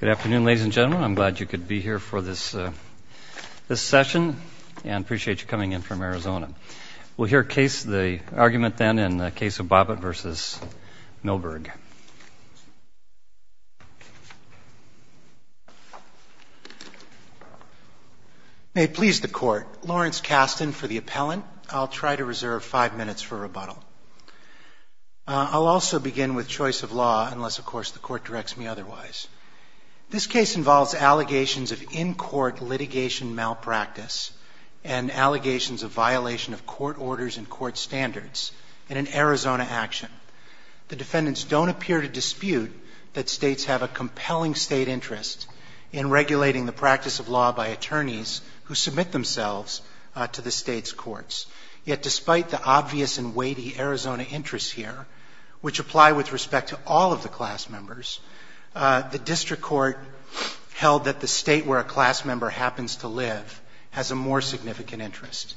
Good afternoon, ladies and gentlemen. I'm glad you could be here for this session and appreciate you coming in from Arizona. We'll hear the argument then in the case of Bobbitt v. Milberg. May it please the Court, Lawrence Kasten for the appellant. I'll try to reserve five minutes for rebuttal. I'll also begin with choice of law unless, of course, the Court directs me otherwise. This case involves allegations of in-court litigation malpractice and allegations of violation of court orders and court standards in an Arizona action. The defendants don't appear to dispute that states have a compelling state interest in regulating the practice of law by attorneys who submit themselves to the state's courts, yet despite the obvious and weighty Arizona interests here, which apply with respect to all of the class members, the district court held that the state where a class member happens to live has a more significant interest.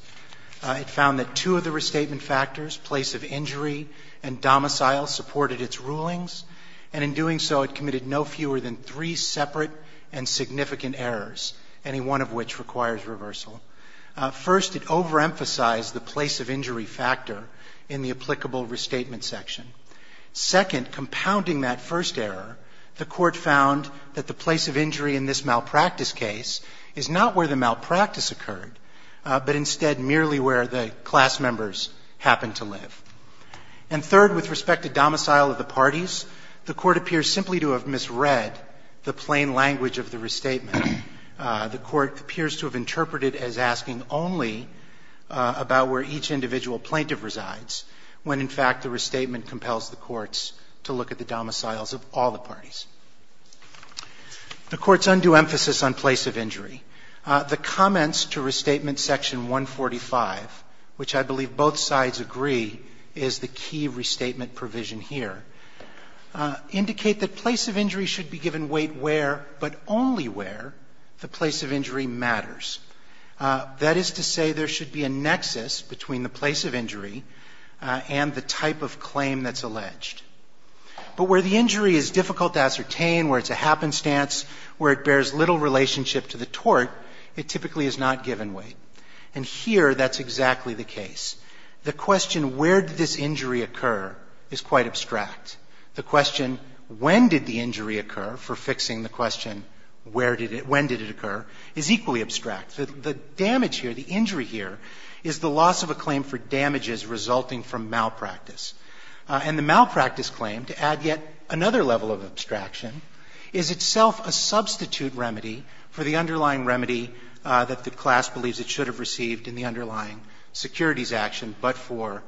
It found that two of the restatement factors, place of injury and domicile, supported its rulings, and in doing so it committed no fewer than three separate and significant errors, any one of which requires reversal. First, it overemphasized the place of injury factor in the applicable restatement section. Second, compounding that first error, the Court found that the place of injury in this malpractice case is not where the malpractice occurred, but instead merely where the class members happened to live. And third, with respect to domicile of the parties, the Court appears simply to have misread the plain language of the restatement. The Court appears to have interpreted it as asking only about where each individual plaintiff resides, when in fact the restatement compels the courts to look at the domiciles of all the parties. The Court's undue emphasis on place of injury. The comments to restatement section 145, which I believe both sides agree is the key restatement provision here, indicate that place of injury should be given weight where, but only where, the place of injury matters. That is to say there should be a nexus between the place of injury and the type of claim that's alleged. But where the injury is difficult to ascertain, where it's a happenstance, where it bears little relationship to the tort, it typically is not given weight. And here that's exactly the case. The question where did this injury occur is quite abstract. The question when did the injury occur, for fixing the question when did it occur, is equally abstract. The damage here, the injury here, is the loss of a claim for damages resulting from malpractice. And the malpractice claim, to add yet another level of abstraction, is itself a substitute remedy for the underlying security action, but for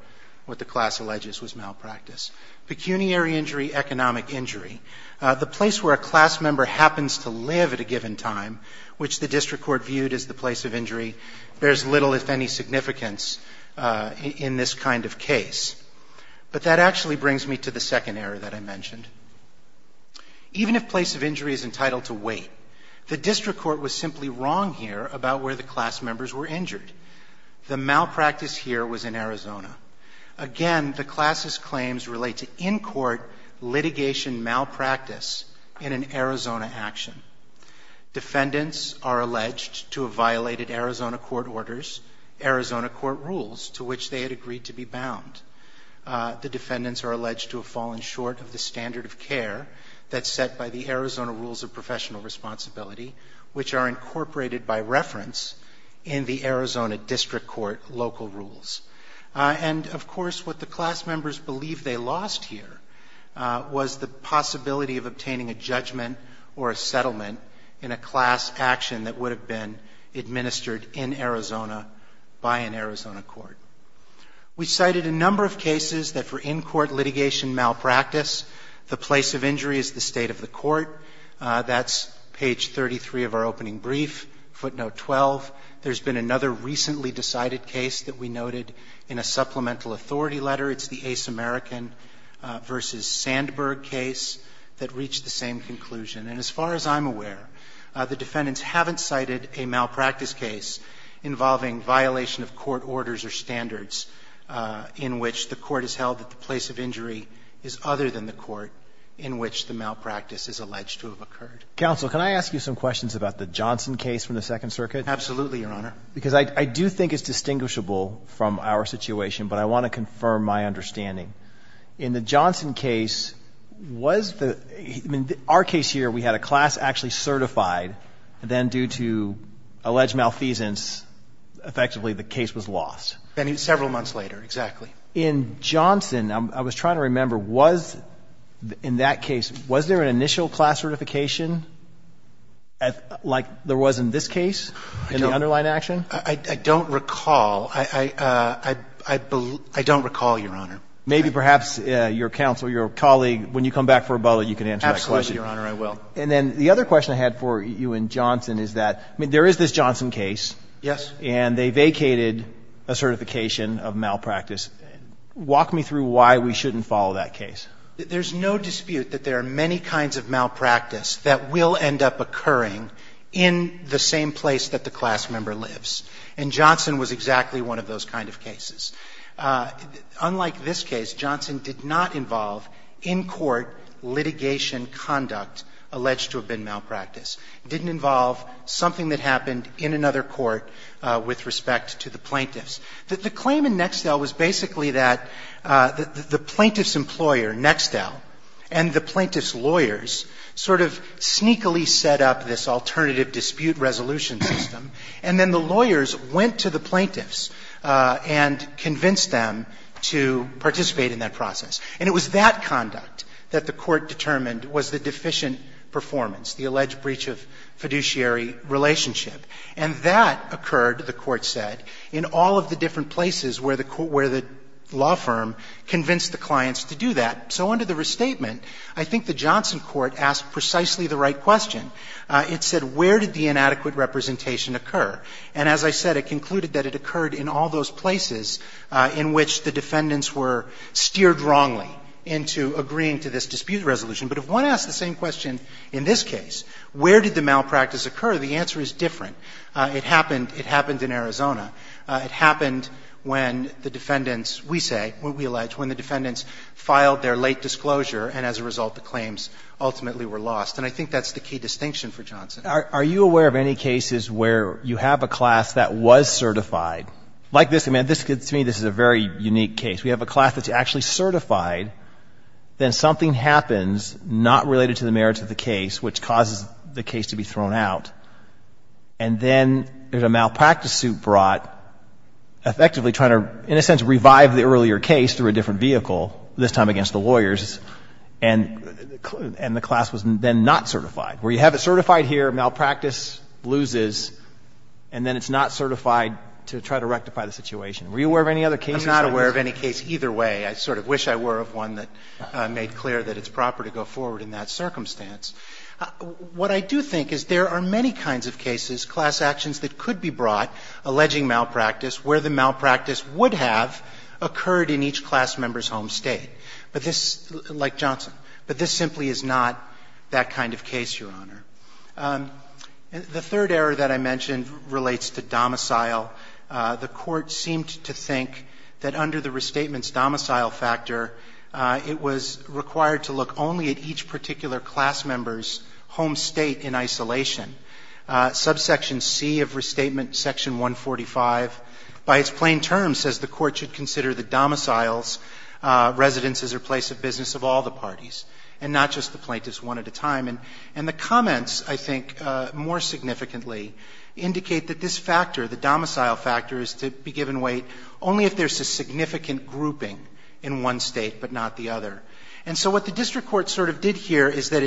what the class alleges was malpractice. Pecuniary injury, economic injury. The place where a class member happens to live at a given time, which the District Court viewed as the place of injury, bears little, if any, significance in this kind of case. But that actually brings me to the second error that I mentioned. Even if place of injury is entitled to weight, the District Court was simply wrong here about where the class members were injured. The malpractice here was in Arizona. Again, the class's claims relate to in-court litigation malpractice in an Arizona action. Defendants are alleged to have violated Arizona court orders, Arizona court rules, to which they had agreed to be bound. The defendants are alleged to have fallen short of the standard of care that's set by the Arizona rules of professional responsibility, which are incorporated by reference in the Arizona District Court local rules. And, of course, what the class members believe they lost here was the possibility of obtaining a judgment or a settlement in a class action that would have been administered in Arizona by an Arizona court. We cited a number of cases that for in-court litigation malpractice, the place of injury is the state of the court. That's page 33 of our opening brief, footnote 12. There's been another recently decided case that we noted in a supplemental authority letter. It's the Ace American v. Sandberg case that reached the same conclusion. And as far as I'm aware, the defendants haven't cited a malpractice case involving violation of court orders or standards in which the court has held that the place of injury is other than the court in which the malpractice is alleged to have occurred. Counsel, can I ask you some questions about the Johnson case from the Second Circuit? Absolutely, Your Honor. Because I do think it's distinguishable from our situation, but I want to confirm my understanding. In Johnson, I was trying to remember, was in that case, was there an initial class certification like there was in this case in the underlying action? I don't recall, Your Honor. Maybe perhaps your counsel, your colleague, when you come back for a bullet, you can answer that question. And then the other question I had for you in Johnson is that, I mean, there is this Johnson case. Yes. And they vacated a certification of malpractice. Walk me through why we shouldn't follow that case. There's no dispute that there are many kinds of malpractice that will end up occurring in the same place that the class member lives. And so the claim in Nextel is that the plaintiff's conduct alleged to have been malpractice didn't involve something that happened in another court with respect to the plaintiffs. The claim in Nextel was basically that the plaintiff's employer, Nextel, and the plaintiff's client, had an inefficient performance, the alleged breach of fiduciary relationship. And that occurred, the Court said, in all of the different places where the law firm convinced the clients to do that. So under the restatement, I think the Johnson court asked precisely the right question. It said, where did the inadequate representation occur? And as I said, it concluded that it occurred in all those places in which the defendants were steered wrongly into agreeing to this dispute resolution. But if one asks the same question in this case, where did the malpractice occur, the answer is different. It happened in Arizona. It happened when the defendants, we say, we allege, when the defendants filed their late disclosure, and as a result, the claims ultimately were lost. And I think that's the key distinction for Johnson. Are you aware of any cases where you have a class that was certified? Like this, I mean, to me, this is a very unique case. We have a class that's actually certified, then something happens not related to the merits of the case, which causes the case to be thrown out. And then there's a malpractice suit brought, effectively trying to, in a sense, revive the earlier case through a different vehicle, this time against the lawyers, and the class was then not certified. Where you have it certified here, malpractice loses, and then it's not certified to try to rectify the situation. Were you aware of any other cases? I'm not aware of any case either way. I sort of wish I were of one that made clear that it's proper to go forward in that circumstance. What I do think is there are many kinds of cases, class actions that could be brought alleging malpractice where the malpractice would have occurred in each class member's home State. But this, like Johnson. But this simply is not that kind of case, Your Honor. The third error that I mentioned relates to domicile. The Court seemed to think that under the Restatement's domicile factor, it was required to look only at each particular class member's home State in isolation. Subsection C of Restatement, Section 145, by its plain terms, says the Court should consider the domicile's residence as a place of business of all the parties and not just the plaintiff's one at a time. And the comments, I think, more significantly, indicate that this factor, the domicile factor, is to be given weight only if there's a significant grouping in one State but not the other. And so what the District Court sort of did here is that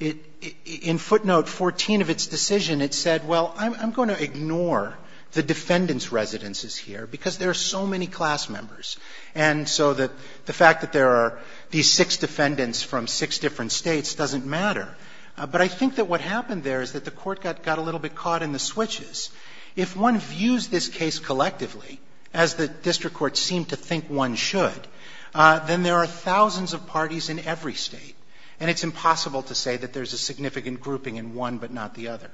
it, in footnote 14 of its decision, it said, well, I'm going to ignore the defendant's residences here because there are so many class members. And so the fact that there are these six defendants from six different States doesn't matter. But I think that what happened there is that the Court got a little bit caught in the switches. If one views this case collectively, as the District Court seemed to think one should, then there are thousands of parties in every State. And it's impossible to say that there's a significant grouping in one but not the other.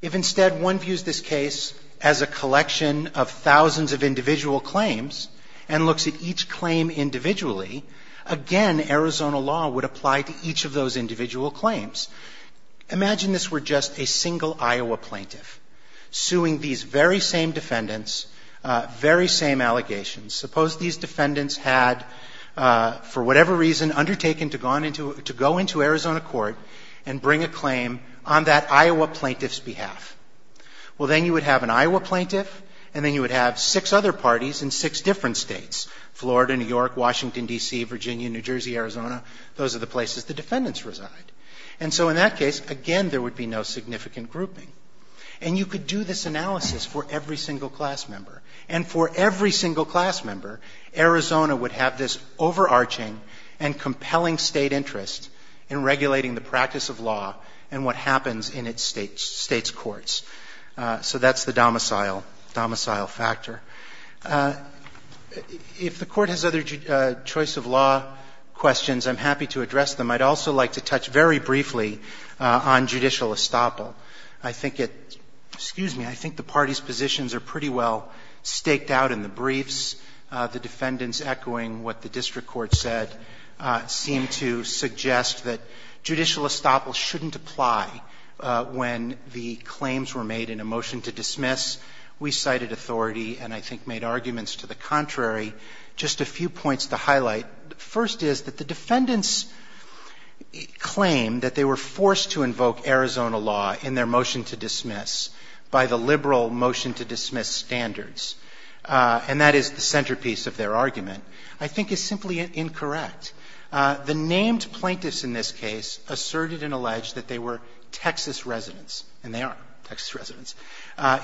If instead one views this case as a collection of thousands of individual claims and looks at each claim individually, again, Arizona law would apply to each of those individual claims. Imagine this were just a single Iowa plaintiff suing these very same defendants, very same allegations. Suppose these defendants had, for whatever reason, undertaken to go into Arizona court and bring a claim on that Iowa plaintiff's behalf. Well, then you would have an Iowa plaintiff and then you would have six other parties in six different States, Florida, New York, Washington, D.C., Virginia, New Jersey, Arizona. Those are the places the defendants reside. And so in that case, again, there would be no significant grouping. And you could do this analysis for every single class member. And for every single class member, Arizona would have this overarching and compelling State interest in regulating the practice of law and what happens in its State's courts. So that's the domicile factor. If the Court has other choice of law questions, I'm happy to address them. I'd also like to touch very briefly on judicial estoppel. I think it's ‑‑ excuse me. I think the parties' positions are pretty well staked out in the briefs, the defendants echoing what the district court said seem to suggest that judicial estoppel shouldn't apply when the claims were made in a motion to dismiss. We cited authority and I think made arguments to the contrary. Just a few points to highlight. First is that the defendants claim that they were forced to invoke Arizona law in their motion to dismiss by the liberal motion to dismiss standards. And that is the centerpiece of their argument. I think it's simply incorrect. The named plaintiffs in this case asserted and alleged that they were Texas residents, and they are Texas residents.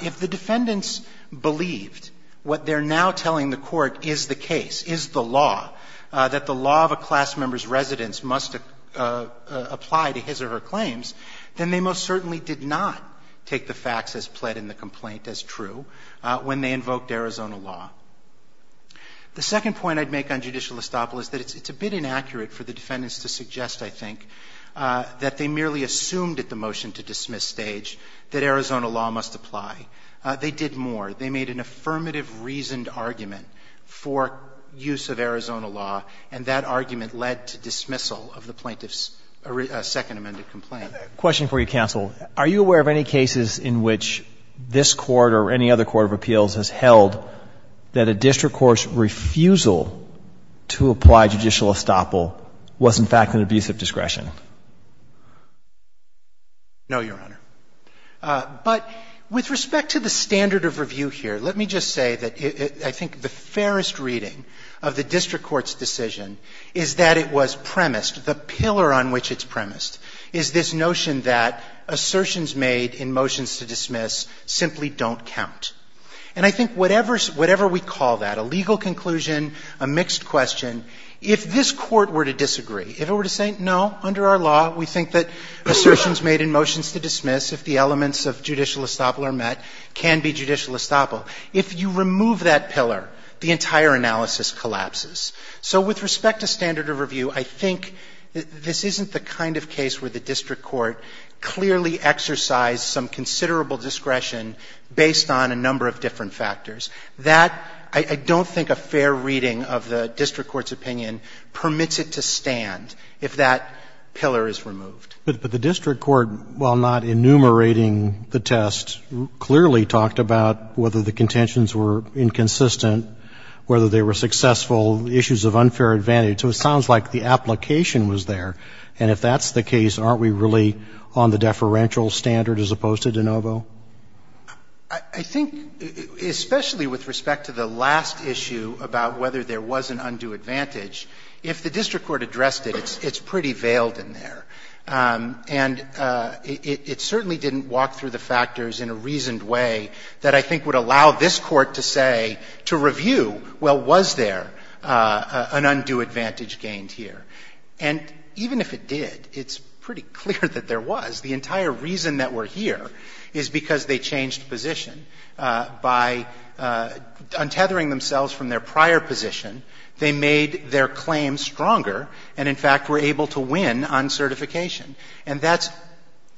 If the defendants believed what they're now telling the Court is the case, is the law, that the law of a class member's residence must apply to his or her claims, then they most certainly did not take the facts as pled in the complaint as true when they invoked Arizona law. The second point I'd make on judicial estoppel is that it's a bit inaccurate for the defendants to suggest, I think, that they merely assumed at the motion to dismiss stage that Arizona law must apply. They did more. They made an affirmative reasoned argument for use of Arizona law, and that argument led to dismissal of the plaintiff's second amended complaint. Roberts, I have a question for you, counsel. Are you aware of any cases in which this Court or any other court of appeals has held that a district court's refusal to apply judicial estoppel was, in fact, an abuse of discretion? No, Your Honor. But with respect to the standard of review here, let me just say that I think the fairest reading of the district court's decision is that it was premised, the pillar on which it's premised, is this notion that assertions made in motions to dismiss simply don't count. And I think whatever we call that, a legal conclusion, a mixed question, if this Court were to disagree, if it were to say, no, under our law, we think that assertions made in motions to dismiss, if the elements of judicial estoppel are met, can be judicial estoppel, if you remove that pillar, the entire analysis collapses. So with respect to standard of review, I think this isn't the kind of case where the district court clearly exercised some considerable discretion based on a number of different factors. That, I don't think a fair reading of the district court's opinion permits it to stand if that pillar is removed. But the district court, while not enumerating the test, clearly talked about whether the contentions were inconsistent, whether they were successful, issues of unfair advantage. So it sounds like the application was there. And if that's the case, aren't we really on the deferential standard as opposed to de novo? I think, especially with respect to the last issue about whether there was an undue advantage, if the district court addressed it, it's pretty veiled in there. And it certainly didn't walk through the factors in a reasoned way that I think would allow this Court to say to review, well, was there an undue advantage gained here? And even if it did, it's pretty clear that there was. The entire reason that we're here is because they changed position. By untethering themselves from their prior position, they made their claim stronger and, in fact, were able to win on certification. And that's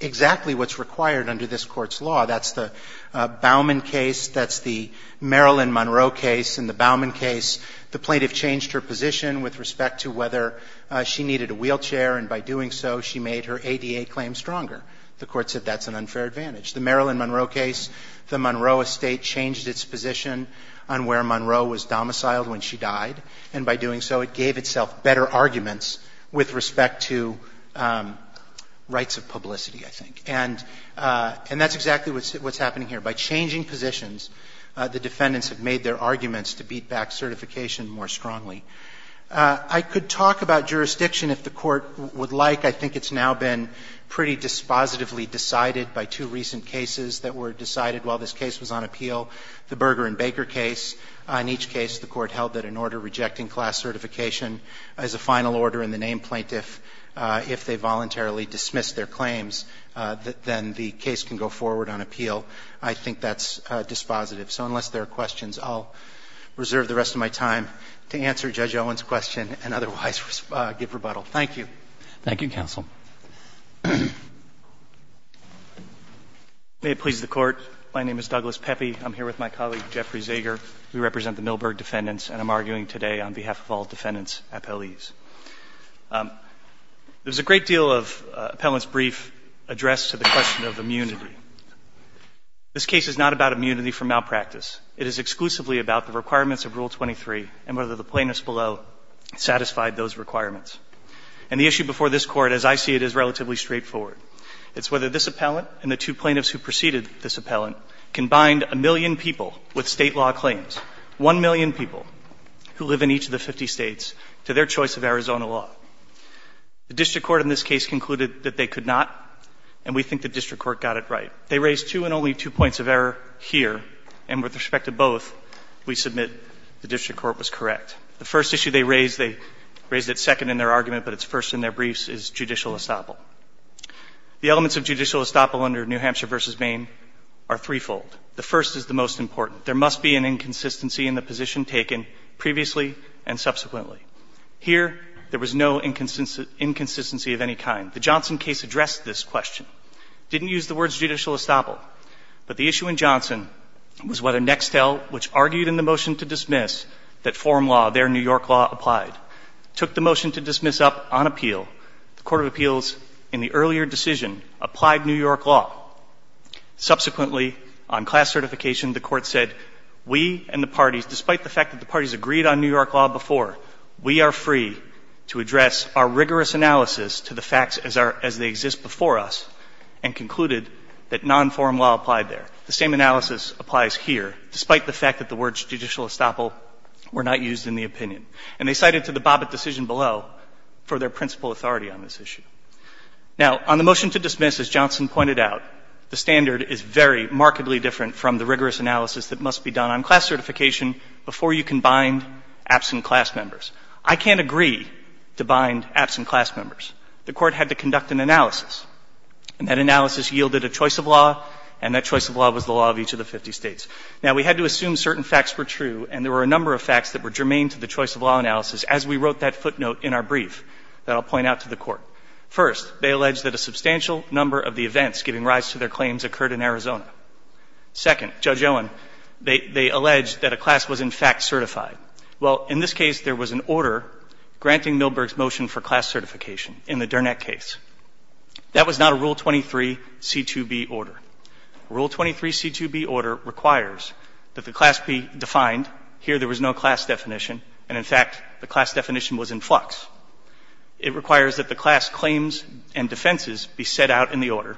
exactly what's required under this Court's law. That's the Baumann case. That's the Marilyn Monroe case. In the Baumann case, the plaintiff changed her position with respect to whether she needed a wheelchair. And by doing so, she made her ADA claim stronger. The Court said that's an unfair advantage. The Marilyn Monroe case, the Monroe estate changed its position on where Monroe was domiciled when she died. And by doing so, it gave itself better arguments with respect to rights of publicity, I think. And that's exactly what's happening here. By changing positions, the defendants have made their arguments to beat back certification more strongly. I could talk about jurisdiction if the Court would like. I think it's now been pretty dispositively decided by two recent cases that were decided while this case was on appeal, the Berger and Baker case. In each case, the Court held that an order rejecting class certification as a final order in the name plaintiff, if they voluntarily dismiss their claims, then the case can go forward on appeal. I think that's dispositive. So unless there are questions, I'll reserve the rest of my time to answer Judge Owen's question and otherwise give rebuttal. Thank you. Roberts. Thank you, counsel. May it please the Court. My name is Douglas Pepe. I'm here with my colleague Jeffrey Zeger. We represent the Milberg defendants, and I'm arguing today on behalf of all defendants appellees. There's a great deal of appellants' brief addressed to the question of immunity. This case is not about immunity from malpractice. It is exclusively about the requirements of Rule 23 and whether the plaintiffs below satisfied those requirements. And the issue before this Court, as I see it, is relatively straightforward. It's whether this appellant and the two plaintiffs who preceded this appellant can bind a million people with State law claims, 1 million people who live in each of the 50 States, to their choice of Arizona law. The district court in this case concluded that they could not, and we think the district court got it right. They raised two and only two points of error here, and with respect to both, we submit the district court was correct. The first issue they raised, they raised it second in their argument, but it's first in their briefs, is judicial estoppel. The elements of judicial estoppel under New Hampshire v. Maine are threefold. The first is the most important. There must be an inconsistency in the position taken previously and subsequently. Here, there was no inconsistency of any kind. The Johnson case addressed this question. Didn't use the words judicial estoppel. But the issue in Johnson was whether Nextel, which argued in the motion to dismiss that form law, their New York law, applied, took the motion to dismiss up on appeal. The Court of Appeals, in the earlier decision, applied New York law. Subsequently, on class certification, the Court said, we and the parties, despite the fact that the parties agreed on New York law before, we are free to address our rigorous analysis to the facts as they exist before us, and concluded that non-form law applied there. The same analysis applies here, despite the fact that the words judicial estoppel were not used in the opinion. And they cited to the Bobbitt decision below for their principal authority on this issue. Now, on the motion to dismiss, as Johnson pointed out, the standard is very markedly different from the rigorous analysis that must be done on class certification before you can bind absent class members. I can't agree to bind absent class members. The Court had to conduct an analysis. And that analysis yielded a choice of law, and that choice of law was the law of each of the 50 states. Now, we had to assume certain facts were true, and there were a number of facts that were germane to the choice of law analysis as we wrote that footnote in our brief that I'll point out to the Court. First, they alleged that a substantial number of the events giving rise to their claims occurred in Arizona. Second, Judge Owen, they alleged that a class was, in fact, certified. Well, in this case, there was an order granting Milberg's motion for class certification in the Durnett case. That was not a Rule 23C2B order. Rule 23C2B order requires that the class be defined. Here, there was no class definition. And, in fact, the class definition was in flux. It requires that the class claims and defenses be set out in the order,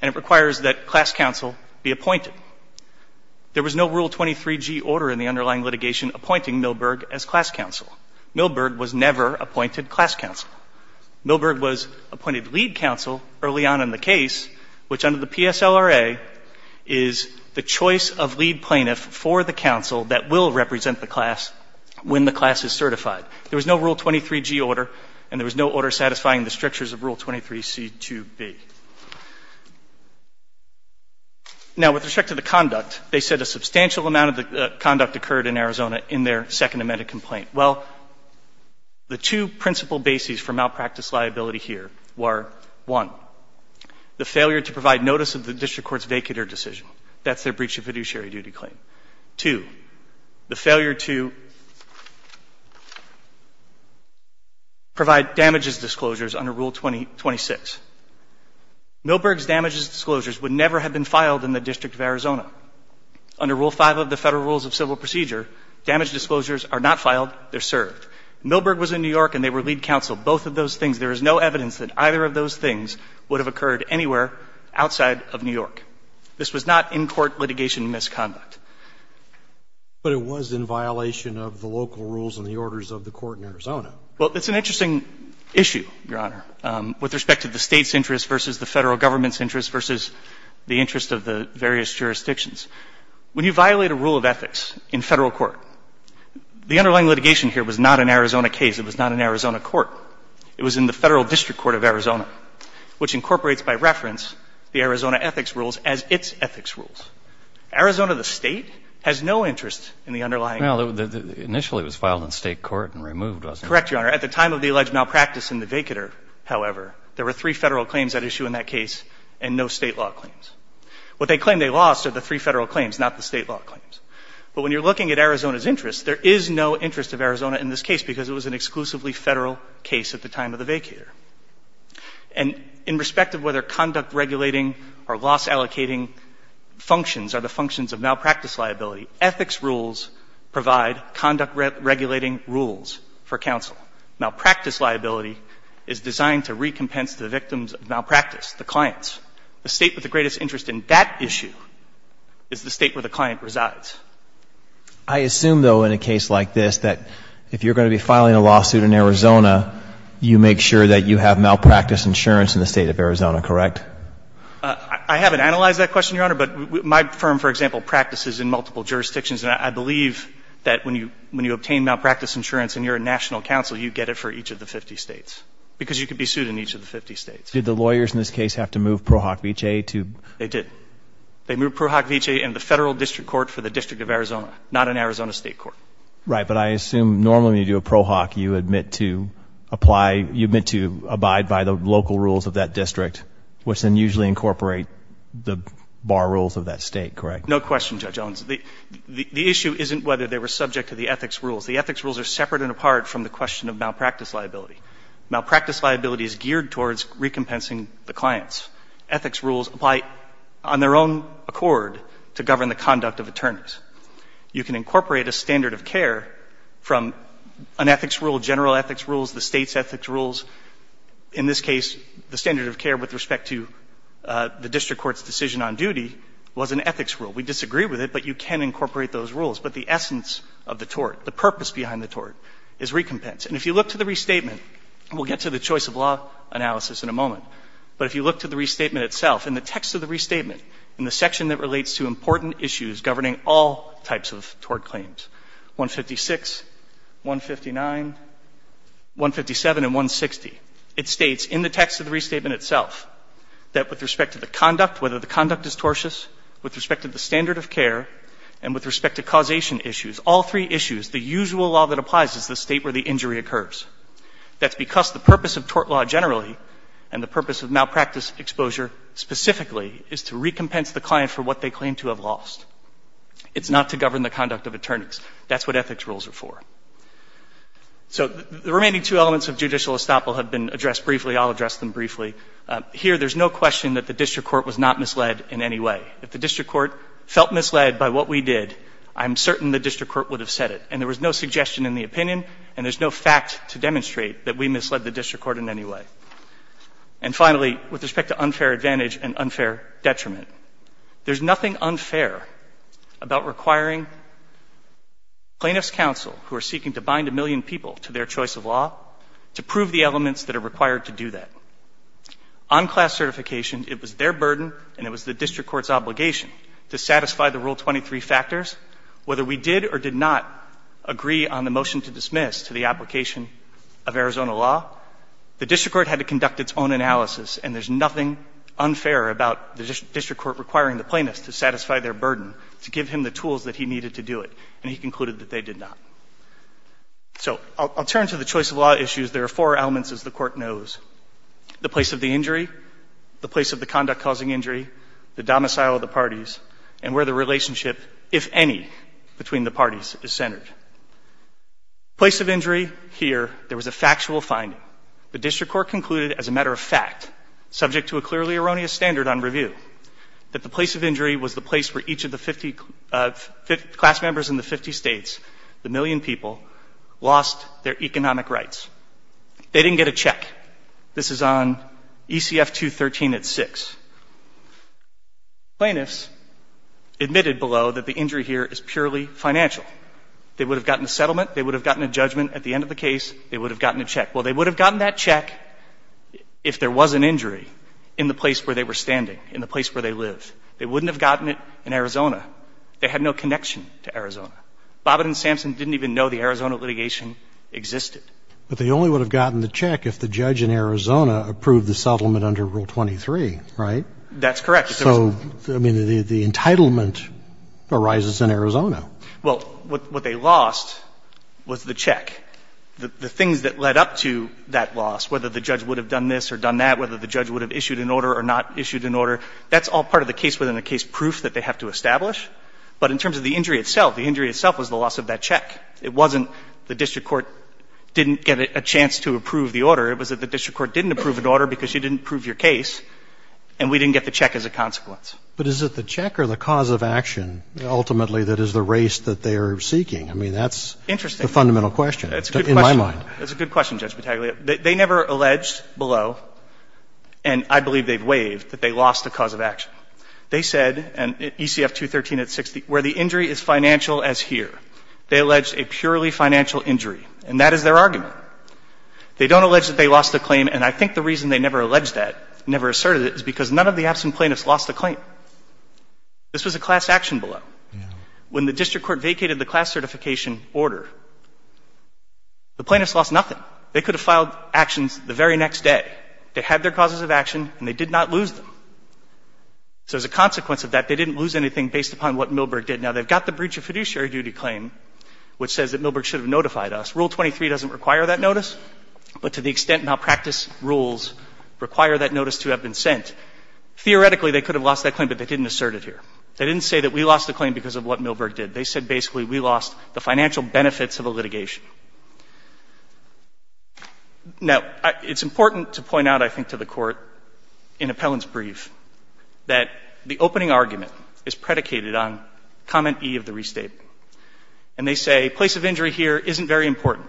and it requires that class counsel be appointed. There was no Rule 23G order in the underlying litigation appointing Milberg as class counsel. Milberg was never appointed class counsel. Milberg was appointed lead counsel early on in the case, which, under the PSLRA, is the choice of lead plaintiff for the counsel that will represent the class when the class is certified. There was no Rule 23G order, and there was no order satisfying the strictures of Rule 23C2B. Now, with respect to the conduct, they said a substantial amount of the conduct occurred in Arizona in their Second Amendment complaint. Well, the two principal bases for malpractice liability here were, one, the failure to provide notice of the district court's vacater decision. That's their breach of fiduciary duty claim. Two, the failure to provide damages disclosures under Rule 26. Milberg's damages disclosures would never have been filed in the District of Arizona. Under Rule 5 of the Federal Rules of Civil Procedure, damage disclosures are not filed, they're served. Milberg was in New York, and they were lead counsel. Both of those things, there is no evidence that either of those things would have occurred anywhere outside of New York. This was not in-court litigation misconduct. But it was in violation of the local rules and the orders of the court in Arizona. Well, it's an interesting issue, Your Honor, with respect to the State's interest versus the Federal Government's interest versus the interest of the various jurisdictions. When you violate a rule of ethics in Federal court, the underlying litigation here was not an Arizona case. It was not an Arizona court. It was in the Federal District Court of Arizona, which incorporates by reference the Arizona ethics rules as its ethics rules. Arizona, the State, has no interest in the underlying rules. Well, initially it was filed in State court and removed, wasn't it? Correct, Your Honor. At the time of the alleged malpractice in the vacator, however, there were three Federal claims at issue in that case and no State law claims. What they claim they lost are the three Federal claims, not the State law claims. But when you're looking at Arizona's interest, there is no interest of Arizona in this case because it was an exclusively Federal case at the time of the vacator. And in respect of whether conduct regulating or loss allocating functions are the functions of malpractice liability, ethics rules provide conduct regulating rules for counsel. Malpractice liability is designed to recompense the victims of malpractice, the clients. The State with the greatest interest in that issue is the State where the client resides. I assume, though, in a case like this that if you're going to be filing a lawsuit in Arizona, you make sure that you have malpractice insurance in the State of Arizona, correct? I haven't analyzed that question, Your Honor. But my firm, for example, practices in multiple jurisdictions. And I believe that when you obtain malpractice insurance and you're a national counsel, you get it for each of the 50 States because you can be sued in each of the 50 States. Did the lawyers in this case have to move ProHoc V.H.A. to? They did. They moved ProHoc V.H.A. into the Federal District Court for the District of Arizona, not an Arizona State court. Right. But I assume normally when you do a ProHoc, you admit to apply, you admit to abide by the local rules of that district, which then usually incorporate the bar rules of that State, correct? No question, Judge Owens. The issue isn't whether they were subject to the ethics rules. The ethics rules are separate and apart from the question of malpractice liability. Malpractice liability is geared towards recompensing the clients. Ethics rules apply on their own accord to govern the conduct of attorneys. You can incorporate a standard of care from an ethics rule, general ethics rules, the State's ethics rules. In this case, the standard of care with respect to the district court's decision on duty was an ethics rule. We disagree with it, but you can incorporate those rules. But the essence of the tort, the purpose behind the tort is recompense. And if you look to the restatement, we'll get to the choice of law analysis in a moment, but if you look to the restatement itself, in the text of the restatement, in the section that relates to important issues governing all types of tort claims, 156, 159, 157, and 160, it states in the text of the restatement itself that with respect to the conduct, whether the conduct is tortious, with respect to the standard of care, and with respect to causation issues, all three issues, the usual law that applies is the State where the injury occurs. That's because the purpose of tort law generally and the purpose of malpractice exposure specifically is to recompense the client for what they claim to have lost. It's not to govern the conduct of attorneys. That's what ethics rules are for. So the remaining two elements of judicial estoppel have been addressed briefly. I'll address them briefly. Here, there's no question that the district court was not misled in any way. If the district court felt misled by what we did, I'm certain the district court would have said it. And there was no suggestion in the opinion, and there's no fact to demonstrate that we misled the district court in any way. And finally, with respect to unfair advantage and unfair detriment, there's nothing unfair about requiring plaintiff's counsel, who are seeking to bind a million people to their choice of law, to prove the elements that are required to do that. On class certification, it was their burden and it was the district court's obligation to satisfy the Rule 23 factors. Whether we did or did not agree on the motion to dismiss to the application of Arizona law, the district court had to conduct its own analysis. And there's nothing unfair about the district court requiring the plaintiffs to satisfy their burden, to give him the tools that he needed to do it. And he concluded that they did not. So I'll turn to the choice of law issues. There are four elements, as the court knows. The place of the injury, the place of the conduct causing injury, the domicile of the Place of injury, here, there was a factual finding. The district court concluded, as a matter of fact, subject to a clearly erroneous standard on review, that the place of injury was the place where each of the 50 class members in the 50 states, the million people, lost their economic rights. They didn't get a check. This is on ECF 213 at 6. Plaintiffs admitted below that the injury here is purely financial. They didn't get a check. They would have gotten a settlement. They would have gotten a judgment at the end of the case. They would have gotten a check. Well, they would have gotten that check if there was an injury in the place where they were standing, in the place where they lived. They wouldn't have gotten it in Arizona. They had no connection to Arizona. Bobbitt and Sampson didn't even know the Arizona litigation existed. But they only would have gotten the check if the judge in Arizona approved the settlement under Rule 23, right? That's correct. So, I mean, the entitlement arises in Arizona. Well, what they lost was the check. The things that led up to that loss, whether the judge would have done this or done that, whether the judge would have issued an order or not issued an order, that's all part of the case within the case proof that they have to establish. But in terms of the injury itself, the injury itself was the loss of that check. It wasn't the district court didn't get a chance to approve the order. It was that the district court didn't approve an order because you didn't prove your case, and we didn't get the check as a consequence. But is it the check or the cause of action, ultimately, that is the race that they are seeking? I mean, that's the fundamental question in my mind. Interesting. That's a good question. That's a good question, Judge Battaglia. They never alleged below, and I believe they've waived, that they lost the cause of action. They said, in ECF 213 at 60, where the injury is financial as here, they alleged a purely financial injury. And that is their argument. They don't allege that they lost the claim. And I think the reason they never alleged that, never asserted it, is because none of the absent plaintiffs lost the claim. This was a class action below. When the district court vacated the class certification order, the plaintiffs lost nothing. They could have filed actions the very next day. They had their causes of action, and they did not lose them. So as a consequence of that, they didn't lose anything based upon what Milberg did. Now, they've got the breach of fiduciary duty claim, which says that Milberg should have notified us. Rule 23 doesn't require that notice. But to the extent malpractice rules require that notice to have been sent, theoretically they could have lost that claim, but they didn't assert it here. They didn't say that we lost the claim because of what Milberg did. They said basically we lost the financial benefits of the litigation. Now, it's important to point out, I think, to the Court, in Appellant's brief, that the opening argument is predicated on Comment E of the Restate. And they say place of injury here isn't very important.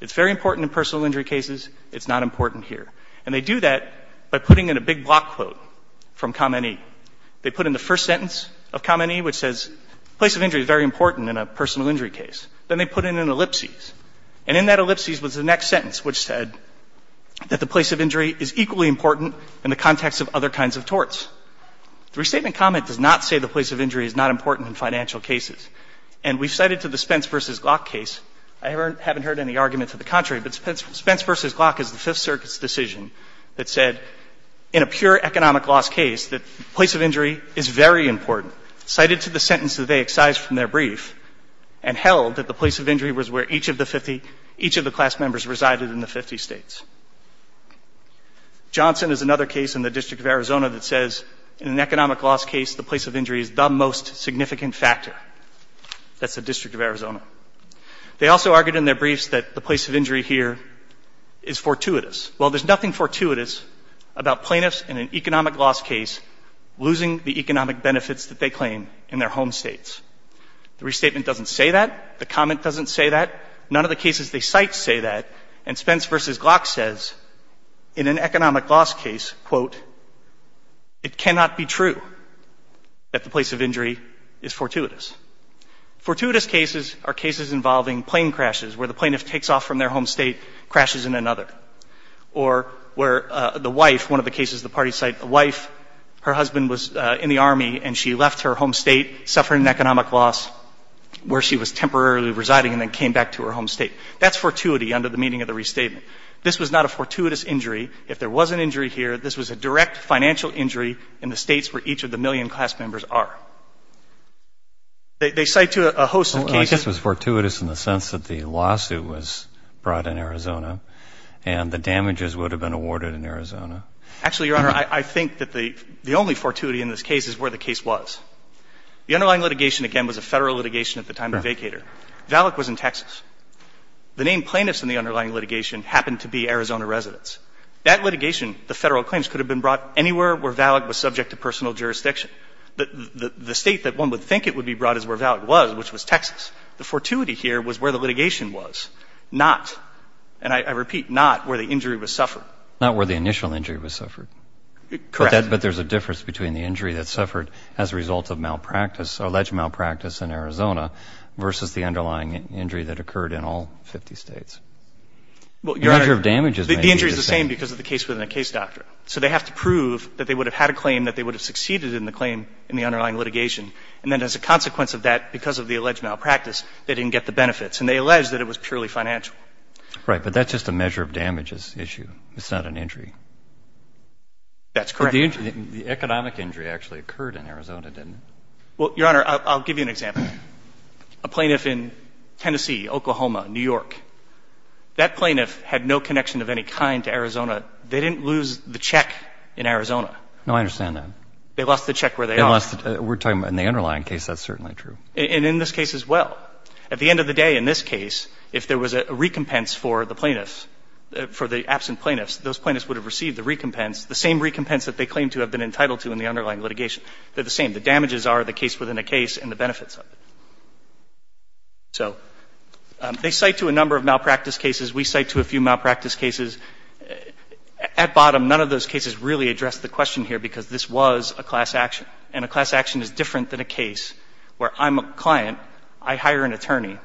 It's very important in personal injury cases. It's not important here. And they do that by putting in a big block quote from Comment E. They put in the first sentence of Comment E, which says place of injury is very important in a personal injury case. Then they put in an ellipsis. And in that ellipsis was the next sentence, which said that the place of injury is equally important in the context of other kinds of torts. The Restatement Comment does not say the place of injury is not important in financial cases. And we've cited to the Spence v. Glock case. I haven't heard any argument to the contrary. But Spence v. Glock is the Fifth Circuit's decision that said in a pure economic loss case that place of injury is very important, cited to the sentence that they excised from their brief, and held that the place of injury was where each of the 50, each of the class members resided in the 50 States. Johnson is another case in the District of Arizona that says in an economic loss case, the place of injury is the most significant factor. That's the District of Arizona. They also argued in their briefs that the place of injury here is fortuitous. Well, there's nothing fortuitous about plaintiffs in an economic loss case losing the economic benefits that they claim in their home states. The Restatement doesn't say that. The Comment doesn't say that. None of the cases they cite say that. And Spence v. Glock says in an economic loss case, quote, it cannot be true that the place of injury is fortuitous. Fortuitous cases are cases involving plane crashes where the plaintiff takes off from their home state, crashes in another. Or where the wife, one of the cases the parties cite, the wife, her husband was in the Army and she left her home state, suffered an economic loss where she was temporarily residing and then came back to her home state. That's fortuity under the meaning of the Restatement. This was not a fortuitous injury. If there was an injury here, this was a direct financial injury in the states where each of the million class members are. They cite a host of cases. Well, I guess it was fortuitous in the sense that the lawsuit was brought in Arizona and the damages would have been awarded in Arizona. Actually, Your Honor, I think that the only fortuity in this case is where the case was. The underlying litigation, again, was a Federal litigation at the time of Vacator. Valleck was in Texas. The named plaintiffs in the underlying litigation happened to be Arizona residents. That litigation, the Federal claims, could have been brought anywhere where Valleck was subject to personal jurisdiction. The state that one would think it would be brought is where Valleck was, which was Texas. The fortuity here was where the litigation was, not, and I repeat, not where the injury was suffered. Not where the initial injury was suffered. Correct. But there's a difference between the injury that suffered as a result of malpractice or alleged malpractice in Arizona versus the underlying injury that occurred in all 50 states. Well, Your Honor, the injury is the same because the case was in a case doctor. So they have to prove that they would have had a claim that they would have succeeded in the claim in the underlying litigation. And then as a consequence of that, because of the alleged malpractice, they didn't get the benefits. And they alleged that it was purely financial. Right. But that's just a measure of damages issue. It's not an injury. That's correct. The economic injury actually occurred in Arizona, didn't it? Well, Your Honor, I'll give you an example. A plaintiff in Tennessee, Oklahoma, New York, that plaintiff had no connection of any kind to Arizona. They didn't lose the check in Arizona. No, I understand that. They lost the check where they are. We're talking about in the underlying case, that's certainly true. And in this case as well. At the end of the day, in this case, if there was a recompense for the plaintiffs for the absent plaintiffs, those plaintiffs would have received the recompense, the same recompense that they claim to have been entitled to in the underlying litigation. They're the same. The damages are the case within a case and the benefits of it. So they cite to a number of malpractice cases. We cite to a few malpractice cases. At bottom, none of those cases really address the question here because this was a class action. And a class action is different than a case where I'm a client, I hire an attorney,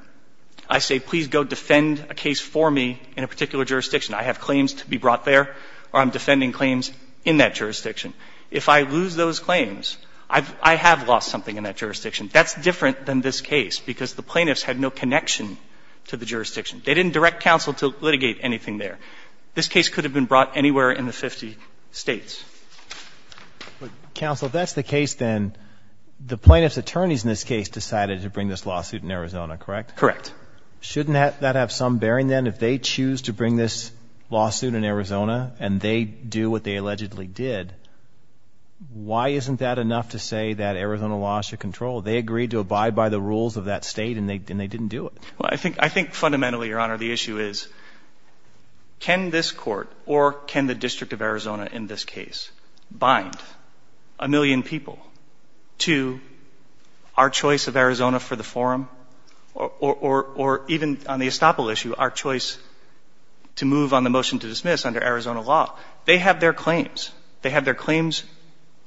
I say, please go defend a case for me in a particular jurisdiction. I have claims to be brought there or I'm defending claims in that jurisdiction. If I lose those claims, I have lost something in that jurisdiction. That's different than this case because the plaintiffs had no connection to the jurisdiction. They didn't direct counsel to litigate anything there. This case could have been brought anywhere in the 50 States. Roberts. But, counsel, if that's the case, then the plaintiff's attorneys in this case decided to bring this lawsuit in Arizona, correct? Correct. Shouldn't that have some bearing, then, if they choose to bring this lawsuit in Arizona and they do what they allegedly did? Why isn't that enough to say that Arizona lost your control? They agreed to abide by the rules of that State and they didn't do it. Well, I think fundamentally, Your Honor, the issue is can this court or can the District of Arizona in this case bind a million people to our choice of Arizona for the forum or even on the estoppel issue our choice to move on the motion to dismiss under Arizona law? They have their claims. They have their claims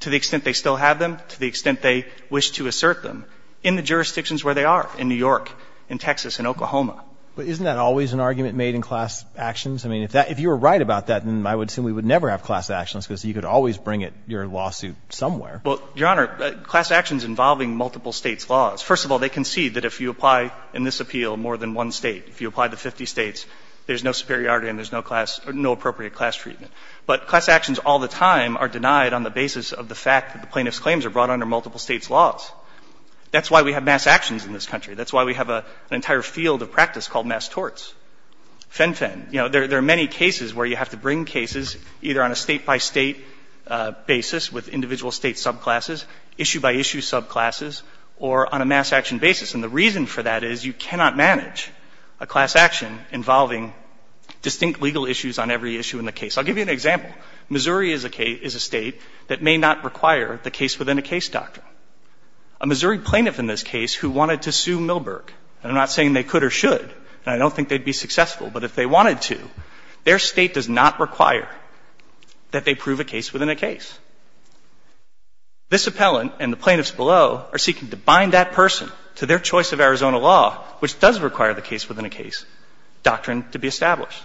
to the extent they still have them, to the extent they wish to assert them in the jurisdictions where they are, in New York, in Texas, in Oklahoma. But isn't that always an argument made in class actions? I mean, if you were right about that, then I would assume we would never have class actions because you could always bring it, your lawsuit, somewhere. Well, Your Honor, class actions involving multiple States' laws. First of all, they concede that if you apply in this appeal more than one State, if you apply to 50 States, there's no superiority and there's no class or no appropriate class treatment. But class actions all the time are denied on the basis of the fact that the plaintiff's laws. That's why we have mass actions in this country. That's why we have an entire field of practice called mass torts. Fen-phen. You know, there are many cases where you have to bring cases either on a State-by-State basis with individual State subclasses, issue-by-issue subclasses, or on a mass action basis. And the reason for that is you cannot manage a class action involving distinct legal issues on every issue in the case. I'll give you an example. Missouri is a State that may not require the case-within-a-case doctrine. A Missouri plaintiff in this case who wanted to sue Milberg, and I'm not saying they could or should, and I don't think they'd be successful, but if they wanted to, their State does not require that they prove a case-within-a-case. This appellant and the plaintiffs below are seeking to bind that person to their choice of Arizona law, which does require the case-within-a-case doctrine to be established.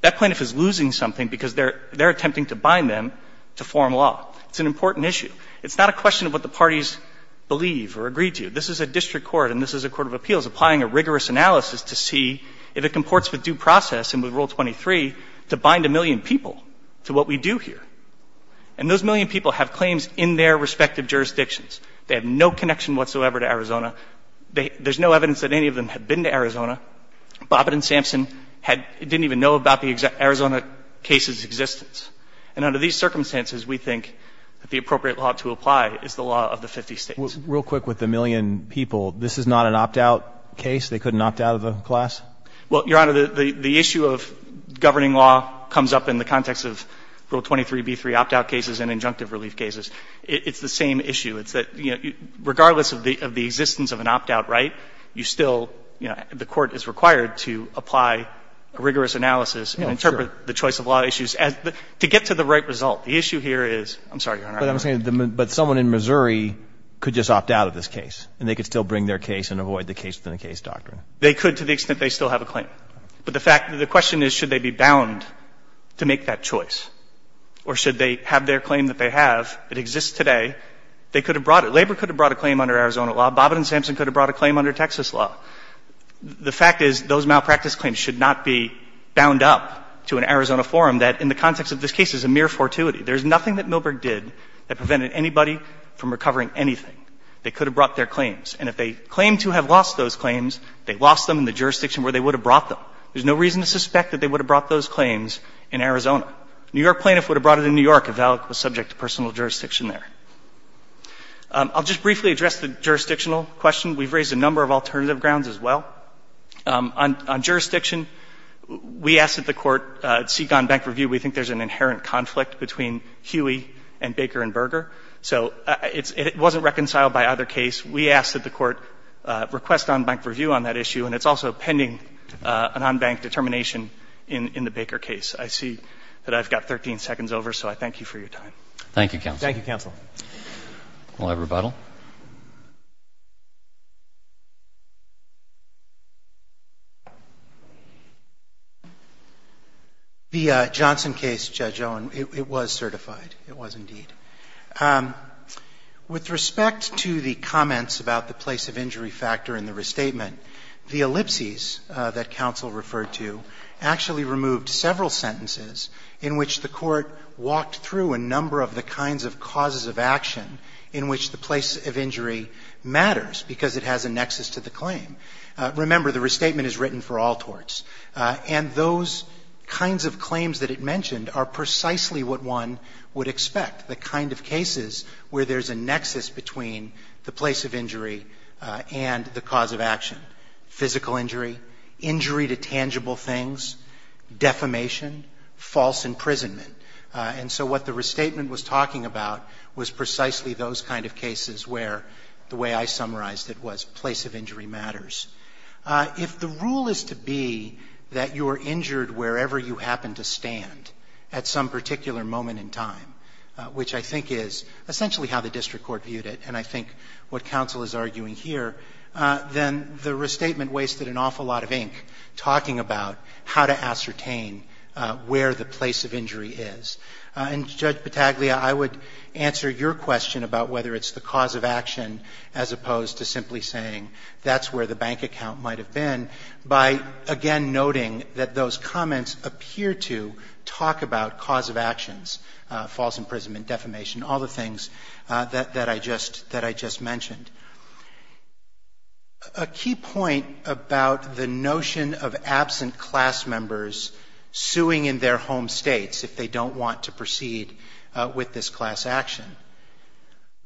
That plaintiff is losing something because they're attempting to bind them to foreign law. It's an important issue. It's not a question of what the parties believe or agree to. This is a district court and this is a court of appeals applying a rigorous analysis to see if it comports with due process and with Rule 23 to bind a million people to what we do here. And those million people have claims in their respective jurisdictions. They have no connection whatsoever to Arizona. There's no evidence that any of them have been to Arizona. Bobbitt and Sampson didn't even know about the Arizona case's existence. And under these circumstances, we think that the appropriate law to apply is the law of the 50 States. Real quick with the million people. This is not an opt-out case? They couldn't opt out of the class? Well, Your Honor, the issue of governing law comes up in the context of Rule 23b3 opt-out cases and injunctive relief cases. It's the same issue. It's that, you know, regardless of the existence of an opt-out right, you still the court is required to apply a rigorous analysis and interpret the choice of law issues to get to the right result. The issue here is, I'm sorry, Your Honor. But someone in Missouri could just opt out of this case and they could still bring their case and avoid the case-within-a-case doctrine? They could to the extent they still have a claim. But the question is should they be bound to make that choice or should they have their claim that they have that exists today? They could have brought it. Labor could have brought a claim under Arizona law. Bobbitt and Sampson could have brought a claim under Texas law. The fact is those malpractice claims should not be bound up to an Arizona forum that in the context of this case is a mere fortuity. There's nothing that Milberg did that prevented anybody from recovering anything. They could have brought their claims. And if they claim to have lost those claims, they lost them in the jurisdiction where they would have brought them. There's no reason to suspect that they would have brought those claims in Arizona. A New York plaintiff would have brought it in New York if Alec was subject to personal jurisdiction there. I'll just briefly address the jurisdictional question. We've raised a number of alternative grounds as well. On jurisdiction, we ask that the Court seek on-bank review. We think there's an inherent conflict between Huey and Baker and Berger. So it wasn't reconciled by either case. We ask that the Court request on-bank review on that issue, and it's also pending an on-bank determination in the Baker case. I see that I've got 13 seconds over, so I thank you for your time. Roberts. Thank you, Counsel. Thank you, Counsel. Will I rebuttal? The Johnson case, Judge Owen, it was certified. It was indeed. With respect to the comments about the place of injury factor in the restatement, the ellipses that Counsel referred to actually removed several sentences in which the Court walked through a number of the kinds of causes of action in which the place of injury matters because it has a nexus to the claim. Remember, the restatement is written for all torts, and those kinds of claims that it mentioned are precisely what one would expect, the kind of cases where there's a nexus between the place of injury and the cause of action. Physical injury, injury to tangible things, defamation, false imprisonment. And so what the restatement was talking about was precisely those kind of cases where the way I summarized it was place of injury matters. If the rule is to be that you are injured wherever you happen to stand at some particular moment in time, which I think is essentially how the district court viewed it, and I think what Counsel is arguing here, then the restatement wasted an awful lot of ink talking about how to ascertain where the place of injury is. And, Judge Pataglia, I would answer your question about whether it's the cause of action as opposed to simply saying that's where the bank account might have been by, again, noting that those comments appear to talk about cause of actions, false imprisonment, defamation, all the things that I just mentioned. A key point about the notion of absent class members suing in their home states if they don't want to proceed with this class action,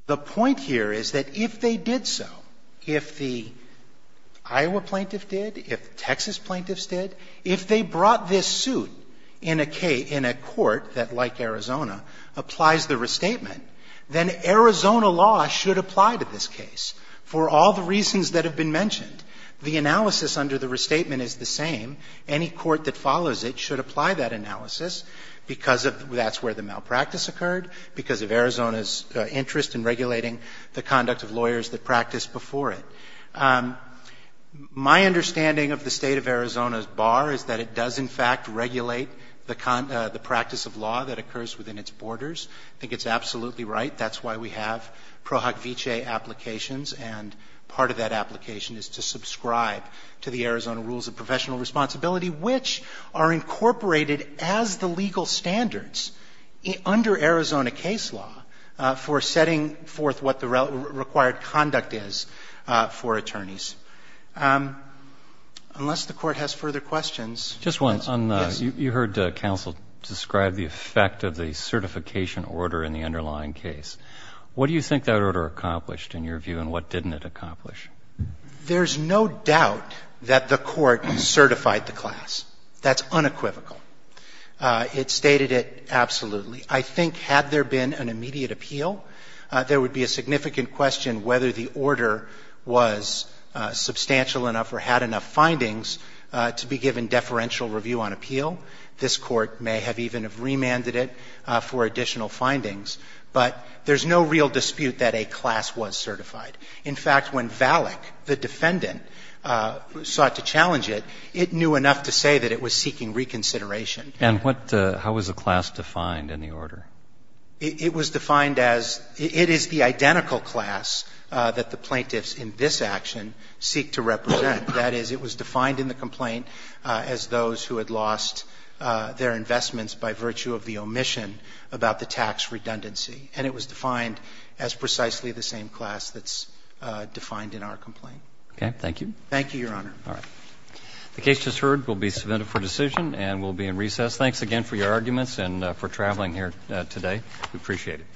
the point here is that if they did so, if the Iowa plaintiff did, if Texas plaintiffs did, if they brought this suit in a court that, like Arizona, applies the restatement, then Arizona law should apply to this case for all the reasons that have been mentioned. The analysis under the restatement is the same. Any court that follows it should apply that analysis because that's where the malpractice occurred, because of Arizona's interest in regulating the conduct of lawyers that practiced before it. My understanding of the State of Arizona's bar is that it does, in fact, regulate the practice of law that occurs within its borders. I think it's absolutely right. That's why we have pro hoc vicee applications, and part of that application is to subscribe to the Arizona rules of professional responsibility, which are incorporated as the legal standards under Arizona case law for setting forth what the required conduct is for attorneys. Unless the Court has further questions. Roberts. Just one. Yes. You heard counsel describe the effect of the certification order in the underlying case. What do you think that order accomplished, in your view, and what didn't it accomplish? There's no doubt that the Court certified the class. That's unequivocal. It stated it absolutely. I think had there been an immediate appeal, there would be a significant question whether the order was substantial enough or had enough findings to be given deferential review on appeal. This Court may have even have remanded it for additional findings. But there's no real dispute that a class was certified. In fact, when Valak, the defendant, sought to challenge it, it knew enough to say that it was seeking reconsideration. And what the – how was the class defined in the order? It was defined as – it is the identical class that the plaintiffs in this action seek to represent. That is, it was defined in the complaint as those who had lost their investments by virtue of the omission about the tax redundancy. And it was defined as precisely the same class that's defined in our complaint. Thank you. Thank you, Your Honor. All right. The case just heard will be submitted for decision and will be in recess. Thanks again for your arguments and for traveling here today. We appreciate it.